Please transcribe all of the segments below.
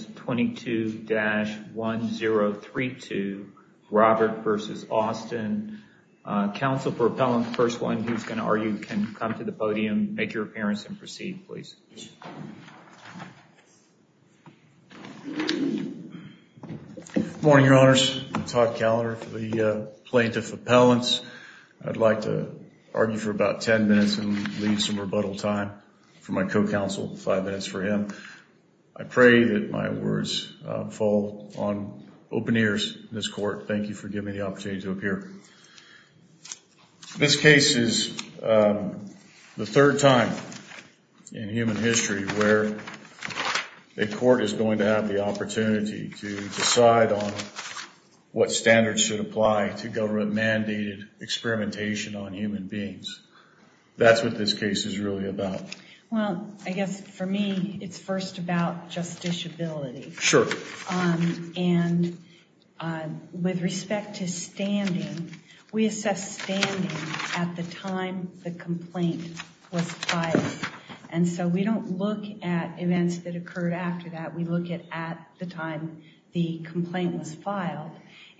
22-1032 Robert v. Austin. Council for appellant, first one, who's going to argue can come to the podium, make your appearance, and proceed, please. Good morning, your honors. Todd Callender for the plaintiff appellants. I'd like to argue for about ten minutes and leave some rebuttal time for my co-counsel, five minutes for him. I pray that my words fall on open ears in this court. Thank you for giving me the opportunity to appear. This case is the third time in human history where a court is going to have the opportunity to decide on what standards should apply to government-mandated experimentation on human beings. That's what this case is really about. Well, I guess for me, it's first about justiciability. Sure. And with respect to standing, we assess standing at the time the complaint was filed. And so we don't look at events that occurred after that, we look at at the time the complaint was filed.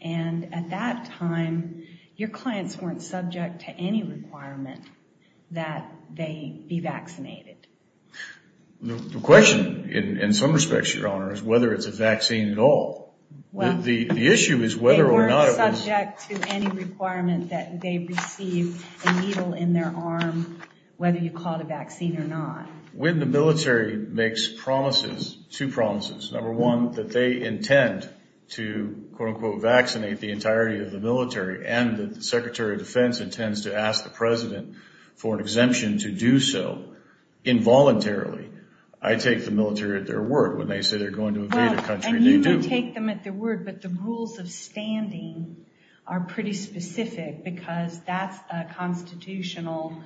And at that time, your clients weren't subject to any requirement that they be vaccinated. The question, in some respects, your honor, is whether it's a vaccine at all. The issue is whether or not it was. They weren't subject to any requirement that they receive a needle in their arm, whether you called a vaccine or not. When the military makes promises, two promises, number one, that they defense intends to ask the president for an exemption to do so involuntarily, I take the military at their word. When they say they're going to invade a country, they do. Well, and you don't take them at their word, but the rules of standing are pretty specific because that's a constitutional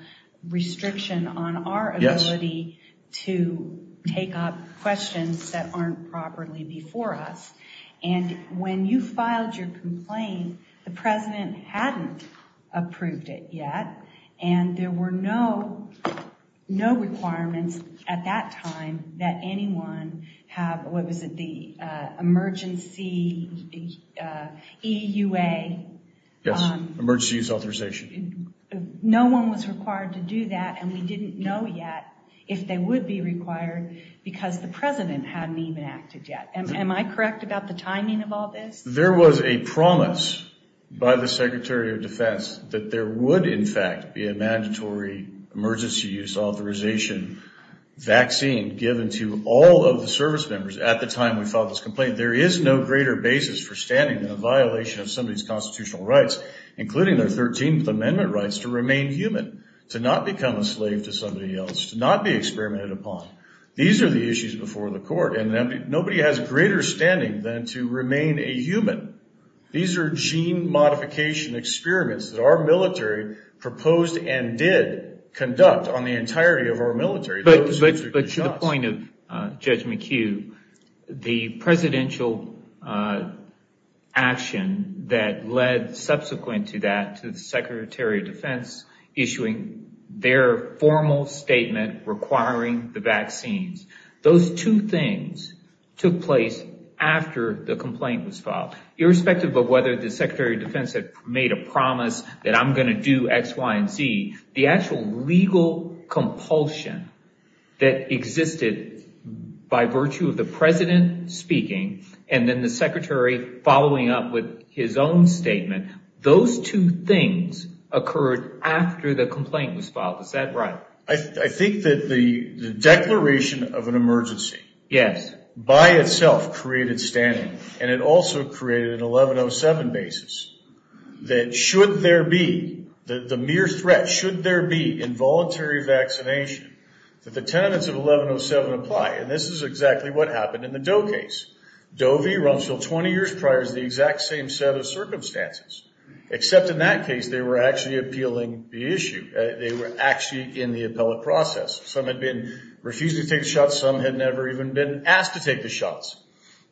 restriction on our ability to take up questions that aren't properly before us. And when you filed your complaint, the president hadn't approved it yet, and there were no requirements at that time that anyone have, what was it, the emergency EUA. Yes, emergency use authorization. No one was required to do that, and we didn't know yet if they would be required because the president hadn't even acted yet. Am I correct about the timing of all this? There was a promise by the Secretary of Defense that there would, in fact, be a mandatory emergency use authorization vaccine given to all of the service members at the time we filed this complaint. There is no greater basis for standing than a violation of somebody's constitutional rights, including their 13th to not be experimented upon. These are the issues before the court, and nobody has greater standing than to remain a human. These are gene modification experiments that our military proposed and did conduct on the entirety of our military. But to the point of Judge McHugh, the presidential action that led subsequent to that to the statement requiring the vaccines, those two things took place after the complaint was filed. Irrespective of whether the Secretary of Defense had made a promise that I'm going to do X, Y, and Z, the actual legal compulsion that existed by virtue of the president speaking and then the secretary following up with his own statement, those two things occurred after the complaint was filed. Is that right? I think that the declaration of an emergency by itself created standing, and it also created an 1107 basis that should there be, the mere threat, should there be involuntary vaccination, that the tenets of 1107 apply. And this is exactly what happened in the Doe case. Doe v. Rumsfeld 20 years prior is the exact same set of circumstances, except in that case they were actually appealing the issue. They were actually in the appellate process. Some had been refused to take the shots, some had never even been asked to take the shots.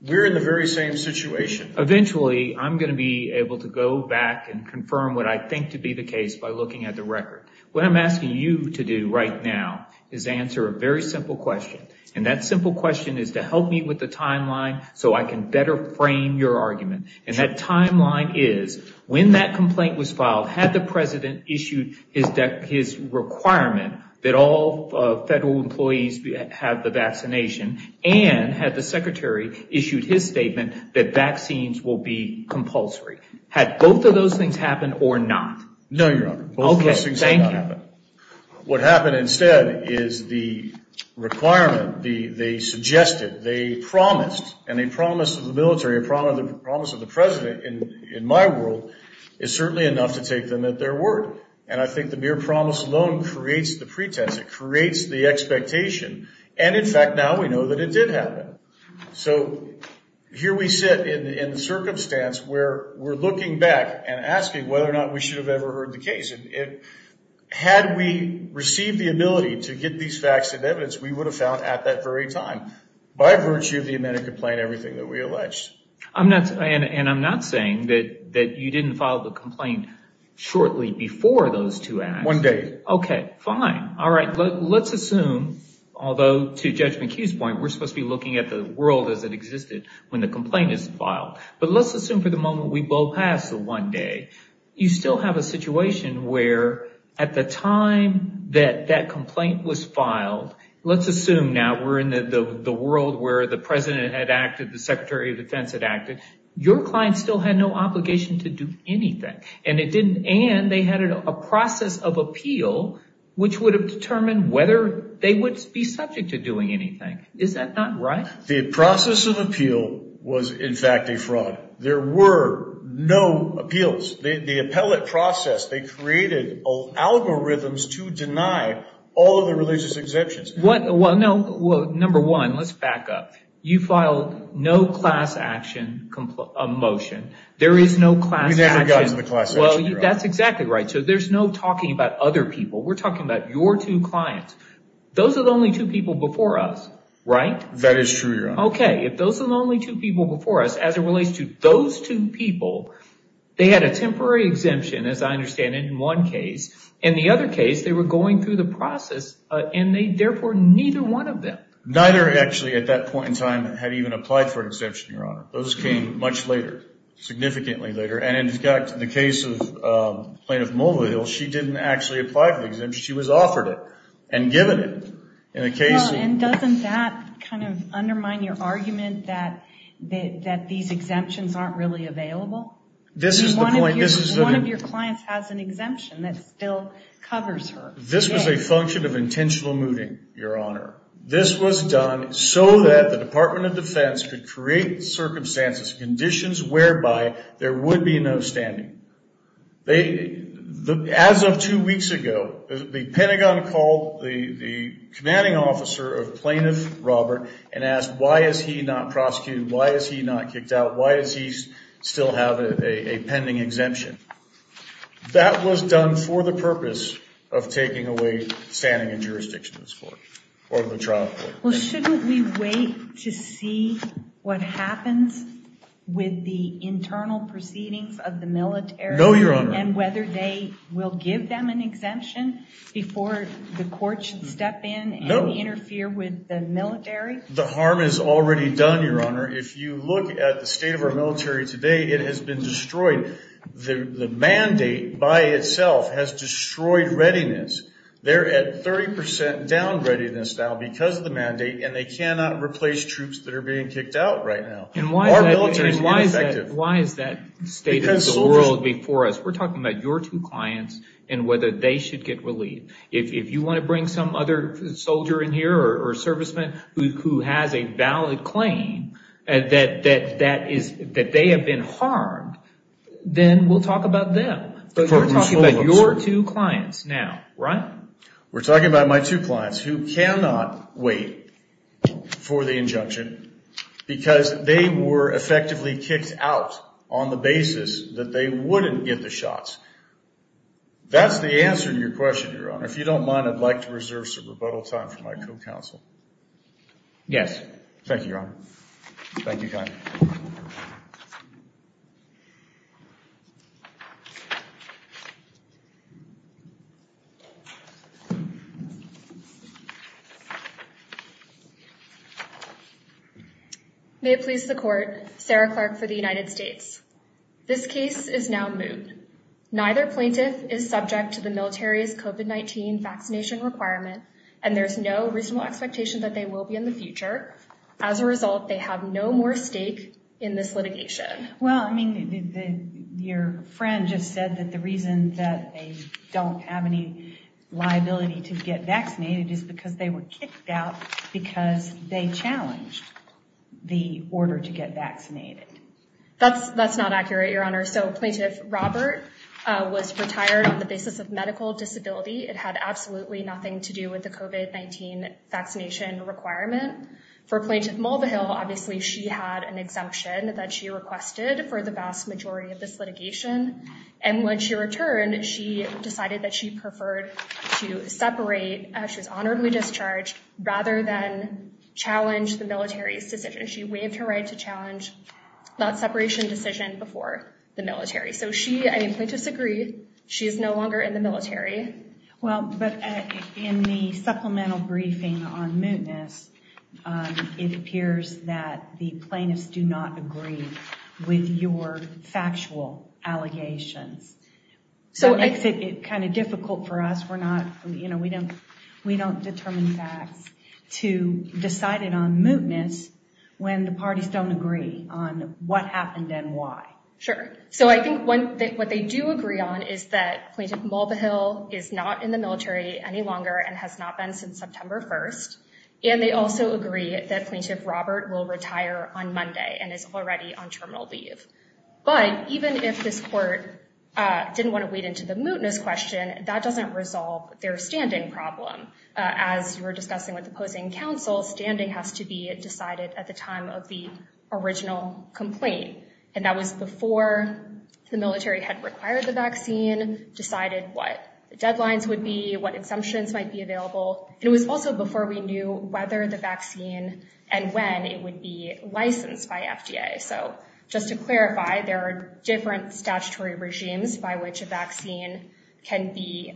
We're in the very same situation. Eventually, I'm going to be able to go back and confirm what I think to be the case by looking at the record. What I'm asking you to do right now is answer a very simple question, and that simple question is to help me with the timeline so I can better frame your argument. And that timeline is, when that complaint was filed, had the President issued his requirement that all federal employees have the vaccination, and had the Secretary issued his statement that vaccines will be compulsory. Had both of those things happened or not? No, Your Honor. Both of those things did not happen. What happened instead is the requirement, they suggested, they promised, and they promised the military, a promise of the President, in my world, is certainly enough to take them at their word. And I think the mere promise alone creates the pretense, it creates the expectation, and in fact now we know that it did happen. So here we sit in the circumstance where we're looking back and asking whether or not we should have ever heard the case. Had we received the ability to get these facts and evidence, we would have found at that very time, by virtue of the amended complaint, everything that we alleged. And I'm not saying that you didn't file the complaint shortly before those two acts. One day. Okay, fine. All right. Let's assume, although to Judge McHugh's point, we're supposed to be looking at the world as it existed when the complaint is filed. But let's assume for the moment we blow past the one day, you still have a situation where, at the time that that complaint was filed, let's assume now we're in the world where the President had acted and the Secretary of Defense had acted, your client still had no obligation to do anything. And it didn't end, they had a process of appeal which would have determined whether they would be subject to doing anything. Is that not right? The process of appeal was in fact a fraud. There were no appeals. The appellate process, they created algorithms to deny all of the religious exemptions. Well, no. Number one, let's back up. You filed no class action motion. There is no class action. We never got to the class action. That's exactly right. So there's no talking about other people. We're talking about your two clients. Those are the only two people before us, right? That is true, Your Honor. Okay. If those are the only two people before us, as it relates to those two people, they had a temporary exemption, as I understand it, in one case. In the other case, they were neither one of them. Neither actually, at that point in time, had even applied for an exemption, Your Honor. Those came much later, significantly later. And in fact, in the case of Plaintiff Mulvihill, she didn't actually apply for the exemption. She was offered it and given it in a case of- And doesn't that kind of undermine your argument that these exemptions aren't really available? This is the point. One of your clients has an exemption that still covers her. This was a function of intentional mooting, Your Honor. This was done so that the Department of Defense could create circumstances, conditions whereby there would be no standing. As of two weeks ago, the Pentagon called the commanding officer of Plaintiff Robert and asked, why is he not prosecuted? Why is he not kicked out? Why does he still have a pending exemption? That was done for the purpose of taking away standing and jurisdiction of this court, or of the trial court. Well, shouldn't we wait to see what happens with the internal proceedings of the military- No, Your Honor. And whether they will give them an exemption before the court should step in and interfere with the military? The harm is already done, Your Honor. If you look at the state of our military today, it the mandate by itself has destroyed readiness. They're at 30% down readiness now because of the mandate, and they cannot replace troops that are being kicked out right now. And why is that- Our military is ineffective. Why is that state of the world before us? We're talking about your two clients and whether they should get relieved. If you want to bring some other soldier in here or serviceman who has a valid claim that they have been harmed, then we'll talk about them. But you're talking about your two clients now, right? We're talking about my two clients who cannot wait for the injunction because they were effectively kicked out on the basis that they wouldn't get the shots. That's the answer to your question, Your Honor. If you don't mind, I'd like to reserve some rebuttal time for my co-counsel. Yes. Thank you, Your Honor. Thank you, John. May it please the Court, Sarah Clark for the United States. This case is now moved. Neither plaintiff is subject to the military's COVID-19 vaccination requirement, and there's no reasonable expectation that they will be in the future. As a result, they have no more stake in this litigation. Well, I mean, your friend just said that the reason that they don't have any liability to get vaccinated is because they were kicked out because they challenged the order to get vaccinated. That's not accurate, Your Honor. So Plaintiff Robert was retired on the basis of medical disability. It had absolutely nothing to do with the COVID-19 vaccination requirement. For Plaintiff Mulvihill, obviously, she had an exemption that she requested for the vast majority of this litigation. And when she returned, she decided that she preferred to separate as she was honorably discharged, rather than challenge the military's decision. She waived her right to challenge that separation decision before the military. So she, I mean, Well, but in the supplemental briefing on mootness, it appears that the plaintiffs do not agree with your factual allegations. So it's kind of difficult for us. We're not, you know, we don't determine facts to decide it on mootness when the parties don't agree on what happened and why. Sure. So I think what they do agree on is that Plaintiff Mulvihill is not in the military any longer and has not been since September 1st. And they also agree that Plaintiff Robert will retire on Monday and is already on terminal leave. But even if this court didn't want to wade into the mootness question, that doesn't resolve their standing problem. As you were discussing with the opposing counsel, standing has to be decided at the time of the original complaint. And that was before the military had required the vaccine, decided what the deadlines would be, what exemptions might be available. It was also before we knew whether the vaccine and when it would be licensed by FDA. So just to clarify, there are different statutory regimes by which a vaccine can be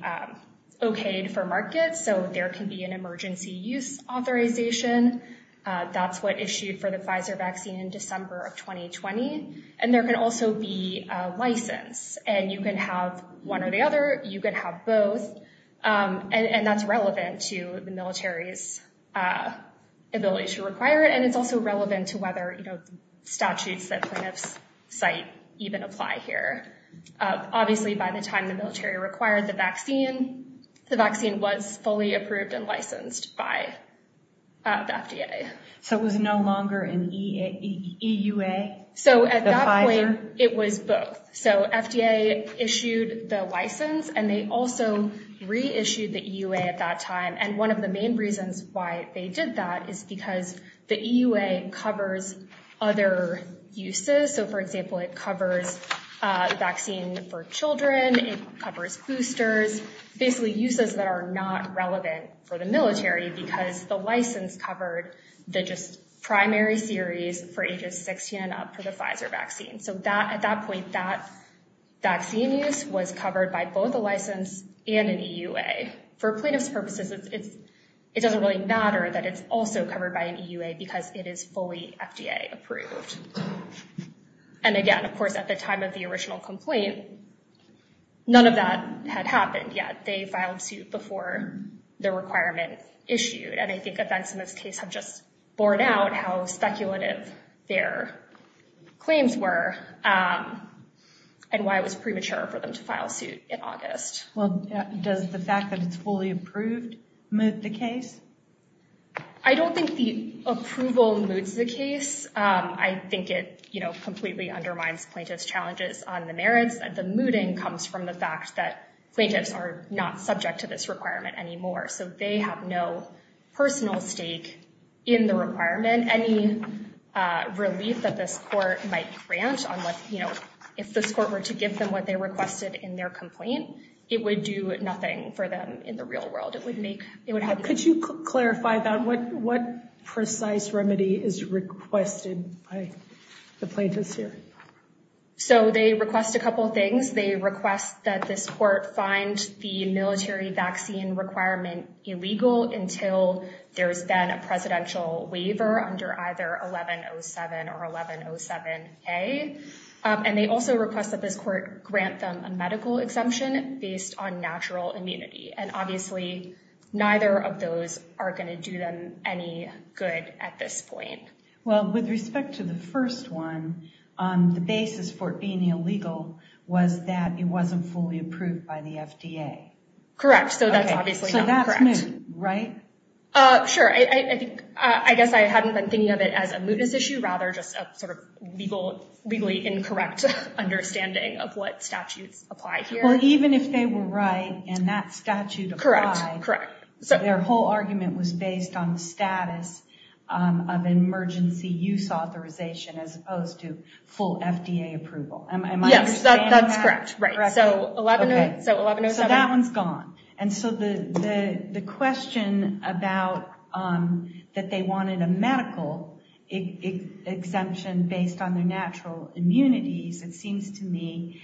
okayed for market. So there can be an emergency use authorization. That's what issued for the Pfizer vaccine in December of 2020. And there can also be a license and you can have one or the other. You can have both. And that's relevant to the military's ability to require it. And it's also relevant to whether statutes that plaintiffs cite even apply here. Obviously, by the time the military required the vaccine, the vaccine was fully approved and licensed by the FDA. So it was no longer in the EUA? So at that point, it was both. So FDA issued the license and they also reissued the EUA at that time. And one of the main reasons why they did that is because the EUA covers other uses. So for example, it covers a vaccine for children. It covers boosters, basically uses that are not relevant for the military because the license covered the just primary series for ages 16 and up for the Pfizer vaccine. So at that point, that vaccine use was covered by both a license and an EUA. For plaintiff's purposes, it doesn't really matter that it's also covered by an EUA because it is fully FDA approved. And again, of course, at the time of the original complaint, none of that had happened yet. They filed suit before the requirement issued. And I think events in this case have just borne out how speculative their claims were and why it was premature for them to file suit in August. Well, does the fact that it's fully approved move the case? I don't think the approval moves the case. I think it completely undermines plaintiff's challenges on the merits. The mooting comes from the fact that plaintiffs are not subject to this requirement anymore. So they have no personal stake in the requirement. Any relief that this court might grant on what if this court were to give them what they requested in their complaint, it would do nothing for them in the real world. Could you clarify that? What precise remedy is requested by the plaintiffs here? So they request a couple of things. They request that this court find the military vaccine requirement illegal until there's been a presidential waiver under 1107 or 1107A. And they also request that this court grant them a medical exemption based on natural immunity. And obviously, neither of those are going to do them any good at this point. Well, with respect to the first one, the basis for being illegal was that it wasn't fully approved by the FDA. Correct. So that's obviously not correct. So that's moot, right? Sure. I guess I hadn't been thinking of it as a mootness issue, rather just a sort of legally incorrect understanding of what statutes apply here. Well, even if they were right and that statute applied, their whole argument was based on the status of emergency use authorization as opposed to full FDA approval. Am I understanding that? Yes, that's correct. So 1107. So that one's gone. And so the question about that they wanted a medical exemption based on their natural immunities, it seems to me,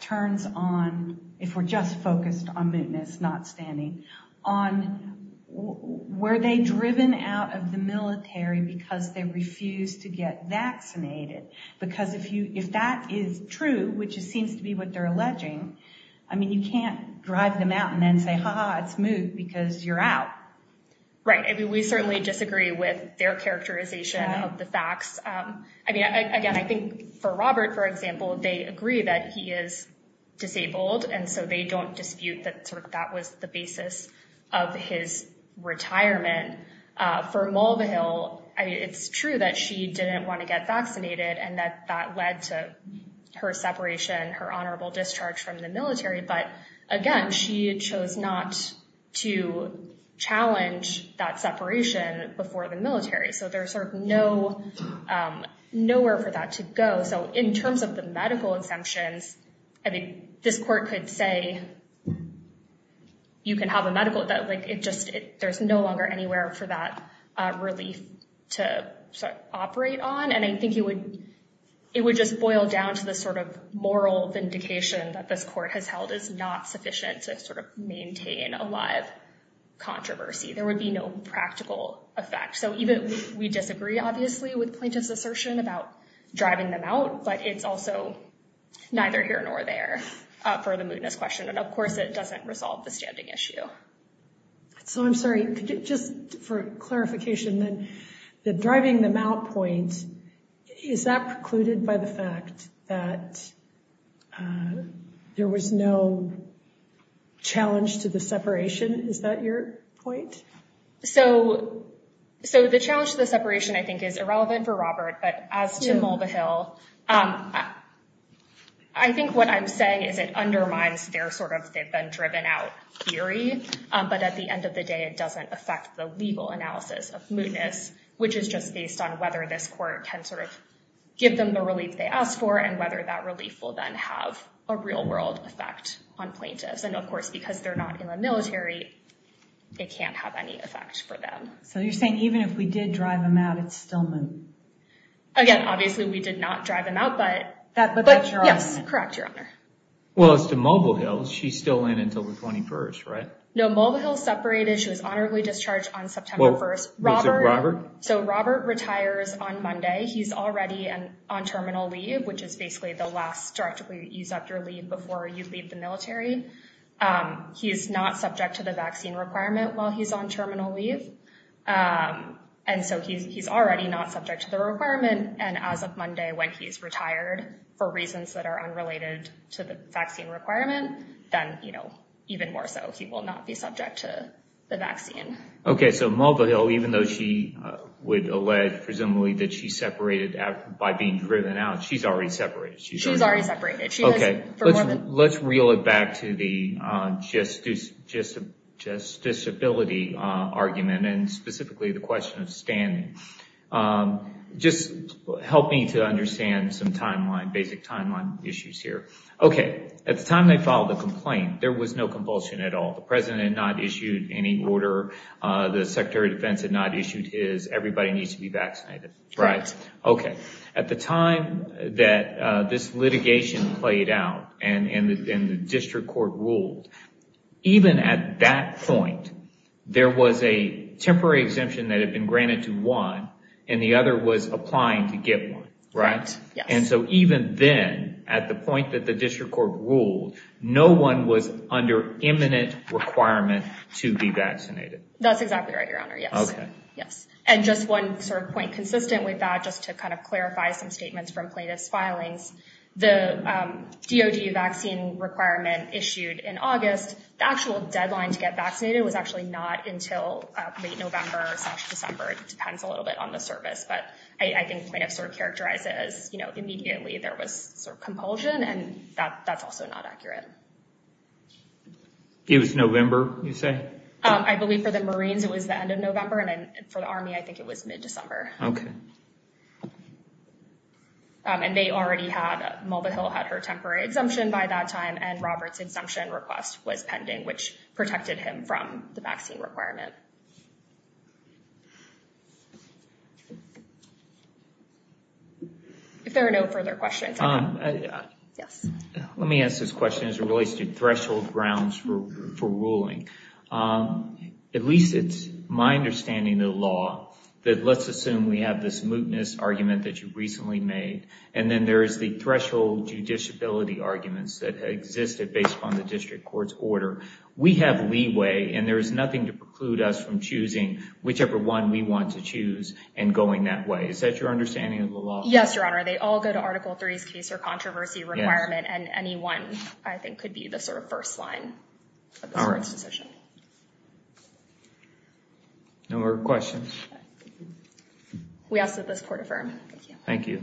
turns on, if we're just focused on mootness, not standing, on were they driven out of the military because they refused to get vaccinated? Because if that is true, which it seems to be what they're alleging, I mean, you can't drive them out and then say, ha ha, it's moot because you're out. Right. I mean, we certainly disagree with their characterization of the facts. I mean, again, I think for Robert, for example, they agree that he is disabled and so they don't dispute that that was the basis of his retirement. For Mulvihill, it's true that she didn't want to get vaccinated and that that led to her separation, her honorable discharge from the military. But again, she chose not to challenge that separation before the military. So there's sort of no nowhere for that to go. So in terms of the medical exemptions, I think this court could say you can have a medical that it just there's no longer anywhere for that relief to operate on. And I think it would just boil down to the sort of moral vindication that this court has held is not sufficient to sort of maintain a live controversy. There would be no practical effect. So even we disagree, obviously, with plaintiff's assertion about driving them out, but it's also neither here nor there for the mootness question. And of course, it doesn't resolve the standing issue. So I'm sorry, just for clarification, the driving them out point, is that precluded by the fact that there was no challenge to the separation? Is that your point? So the challenge to the separation, I think, is irrelevant for Robert, but as to Mulvihill, I think what I'm saying is it undermines their sort of they've been driven out theory. But at the end of the day, it doesn't affect the legal analysis of mootness, which is just based on whether this court can sort of give them the relief they asked for, and whether that relief will then have a real world effect on plaintiffs. And of course, because they're not in the military, it can't have any effect for them. So you're saying even if we did drive them out, it's still moot? Again, obviously, we did not drive them out, but that but yes, correct, Your Honor. Well, as to Mulvihill, she's still in until the 21st, right? No, Mulvihill separated, she was honorably discharged on September 1st. So Robert retires on Monday, he's already on terminal leave, which is basically the last directly use of your leave before you leave the military. He's not subject to the vaccine requirement while he's on terminal leave. And so he's already not subject to the requirement. And as of Monday, when he's retired, for reasons that are unrelated to the vaccine requirement, then, you know, even more so, he will not be subject to the vaccine. Okay, so Mulvihill, even though she would allege presumably that she separated by being driven out, she's already separated. She's already separated. Okay, let's reel it back to the just disability argument, and specifically the question of just help me to understand some timeline, basic timeline issues here. Okay, at the time they filed the complaint, there was no compulsion at all. The President had not issued any order. The Secretary of Defense had not issued his, everybody needs to be vaccinated. Right. Okay, at the time that this litigation played out, and the district court ruled, even at that point, there was a temporary exemption that had been granted to one, and the other was applying to get one, right? And so even then, at the point that the district court ruled, no one was under imminent requirement to be vaccinated. That's exactly right, Your Honor, yes. Okay. Yes. And just one sort of point consistent with that, just to kind of clarify some statements from plaintiff's filings, the DOD vaccine requirement issued in August, the actual deadline to get vaccinated was actually not until late November, December. It depends a little bit on the service, but I think plaintiff sort of characterizes, you know, immediately there was sort of compulsion, and that's also not accurate. It was November, you say? I believe for the Marines, it was the end of November, and then for the Army, I think it was mid-December. Okay. And they already had, Mulvihill had her temporary exemption by that time, and Robert's exemption request was pending, which protected him from the vaccine requirement. Okay. If there are no further questions. Yes. Let me ask this question as it relates to threshold grounds for ruling. At least it's my understanding of the law, that let's assume we have this mootness argument that you recently made, and then there is the threshold judiciability arguments that existed based upon the district court's order. We have leeway, and there is nothing to preclude us from choosing whichever one we want to choose and going that way. Is that your understanding of the law? Yes, Your Honor. They all go to Article III's case or controversy requirement, and any one, I think, could be the sort of first line of the court's decision. No more questions? We ask that this court affirm. Thank you.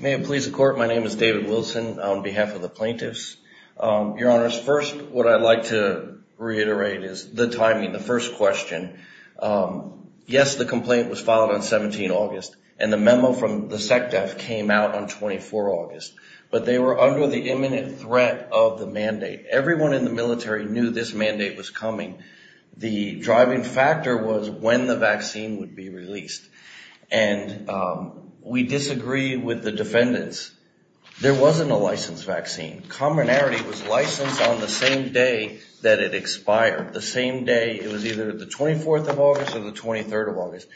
May it please the court. My name is David Wilson on behalf of the plaintiffs. Your Honor, first, what I'd like to reiterate is the timing. The first question, yes, the complaint was filed on 17 August, and the memo from the SECDEF came out on 24 August, but they were under the imminent threat of the mandate. Everyone in the military knew this mandate was coming. We disagree with the defendants. There wasn't a licensed vaccine. Commonarity was licensed on the same day that it expired, the same day. It was either the 24th of August or the 23rd of August.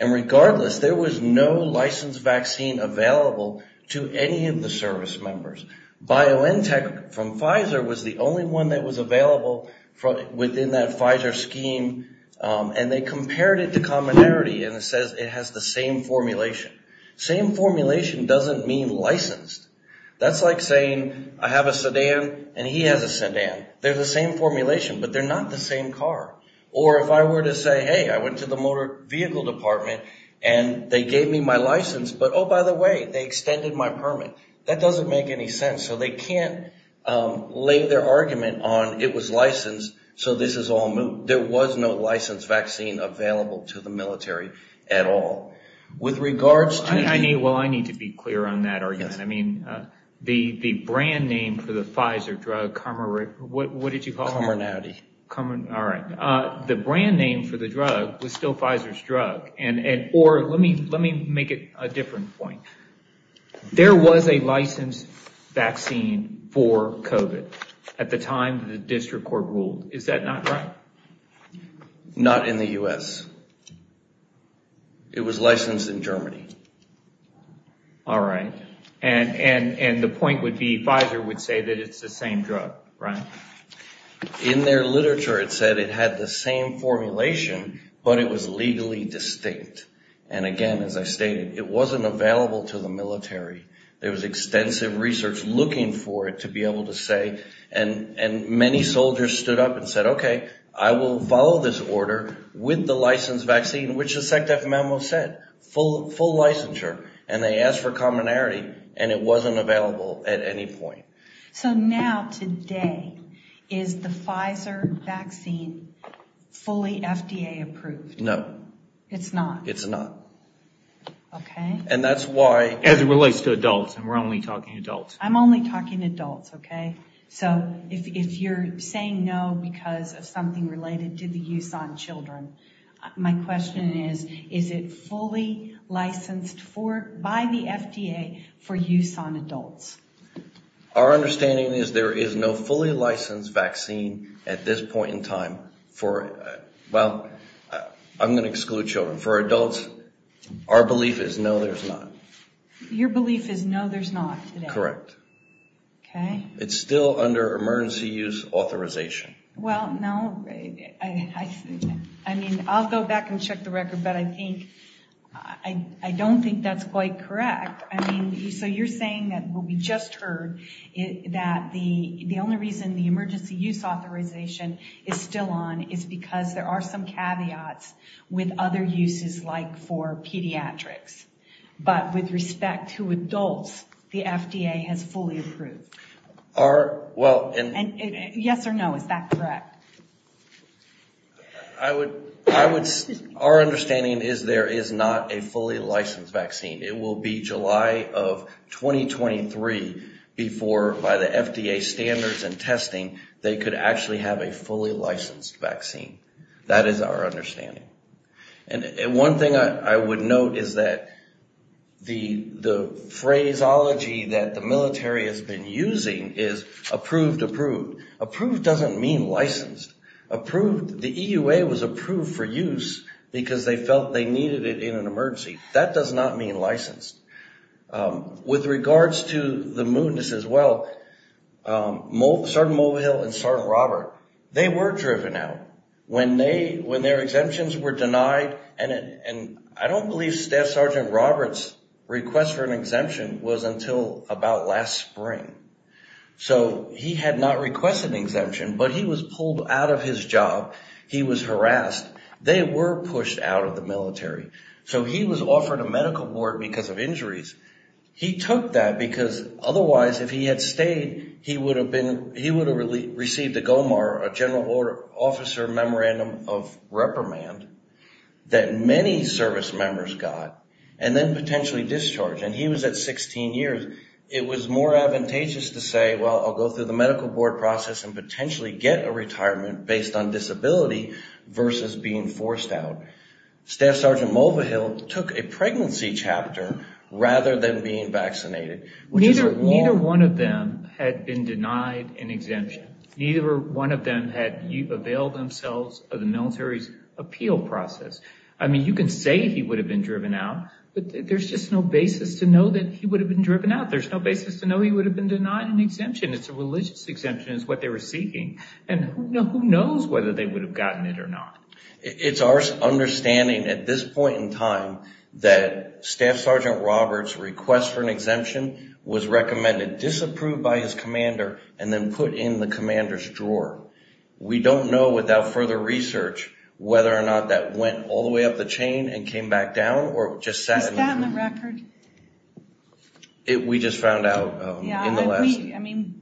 Regardless, there was no licensed vaccine available to any of the service members. BioNTech from Pfizer was the only one that was available within that Pfizer scheme, and they compared it to commonality, and it says it has the same formulation. Same formulation doesn't mean licensed. That's like saying, I have a sedan, and he has a sedan. They're the same formulation, but they're not the same car. Or if I were to say, hey, I went to the motor vehicle department, and they gave me my license, but oh, by the way, they extended my permit. That doesn't make any sense. So they can't lay their argument on, it was licensed, so this is all new. There was no licensed vaccine available to the military at all. With regards to- I need to be clear on that argument. I mean, the brand name for the Pfizer drug, what did you call it? Commonality. All right. The brand name for the drug was still Pfizer's drug, or let me make it a different point. There was a licensed vaccine for COVID at the time the district court ruled. Is that not right? Not in the U.S. It was licensed in Germany. All right. And the point would be Pfizer would say that it's the same drug, right? In their literature, it said it had the same formulation, but it was legally distinct. And again, as I stated, it wasn't available to the military. There was extensive research looking for it to be able to say, and many soldiers stood up and said, okay, I will follow this order with the licensed vaccine, which the SECDEF memo said, full licensure. And they asked for commonality, and it wasn't available at any point. So now, today, is the Pfizer vaccine fully FDA approved? No. It's not? It's not. Okay. And that's why- As it relates to adults, and we're only talking adults. I'm only talking adults, okay? So if you're saying no because of something related to the use on children, my question is, is it fully licensed by the FDA for use on adults? Our understanding is there is no fully licensed vaccine at this point in time for- Well, I'm going to exclude children. For adults, our belief is no, there's not. Your belief is no, there's not today? Correct. Okay. It's still under emergency use authorization. Well, no. I mean, I'll go back and check the record, but I don't think that's quite correct. I mean, so you're saying that what we just heard, that the only reason the emergency use authorization is still on is because there are some caveats with other uses, like for pediatrics. But with respect to adults, the FDA has fully approved. Well- Yes or no, is that correct? Our understanding is there is not a fully licensed vaccine. It will be July of 2023 before, by the FDA standards and testing, they could actually have a fully licensed vaccine. That is our understanding. And one thing I would note is that the phraseology that the military has been using is approved, approved. Approved doesn't mean licensed. Approved, the EUA was approved for use because they felt they needed it in an emergency. That does not mean licensed. With regards to the movements as well, Sergeant Mobile and Sergeant Robert, they were driven out when their exemptions were denied. And I don't believe Staff Sergeant Robert's request for an exemption was until about last spring. So he had not requested an exemption, but he was pulled out of his job. He was harassed. They were pushed out of the military. So he was offered a medical board because of injuries. He took that because otherwise, if he had stayed, he would have received a GOMAR, a general officer memorandum of reprimand that many service members got, and then potentially discharged. And he was at 16 years. It was more advantageous to say, well, I'll go through the medical board process and potentially get a retirement based on disability versus being forced out. Staff Sergeant Mobile took a pregnancy chapter rather than being vaccinated. Neither one of them had been denied an exemption. Neither one of them had availed themselves of the military's appeal process. I mean, you can say he would have been driven out, but there's just no basis to know that he would have been driven out. There's no basis to know he would have been denied an exemption. It's a religious exemption is what they were seeking. And who knows whether they would have gotten it or not. It's our understanding at this point in time that Staff Sergeant Robert's request for an exemption was recommended, disapproved by his commander, and then put in the commander's drawer. We don't know without further research whether or not that went all the way up the chain and came back down or just sat on the record. We just found out in the last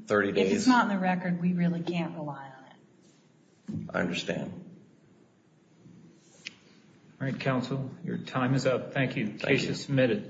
30 days. If it's not on the record, we really can't rely on it. I understand. All right, counsel, your time is up. Thank you. The case is submitted.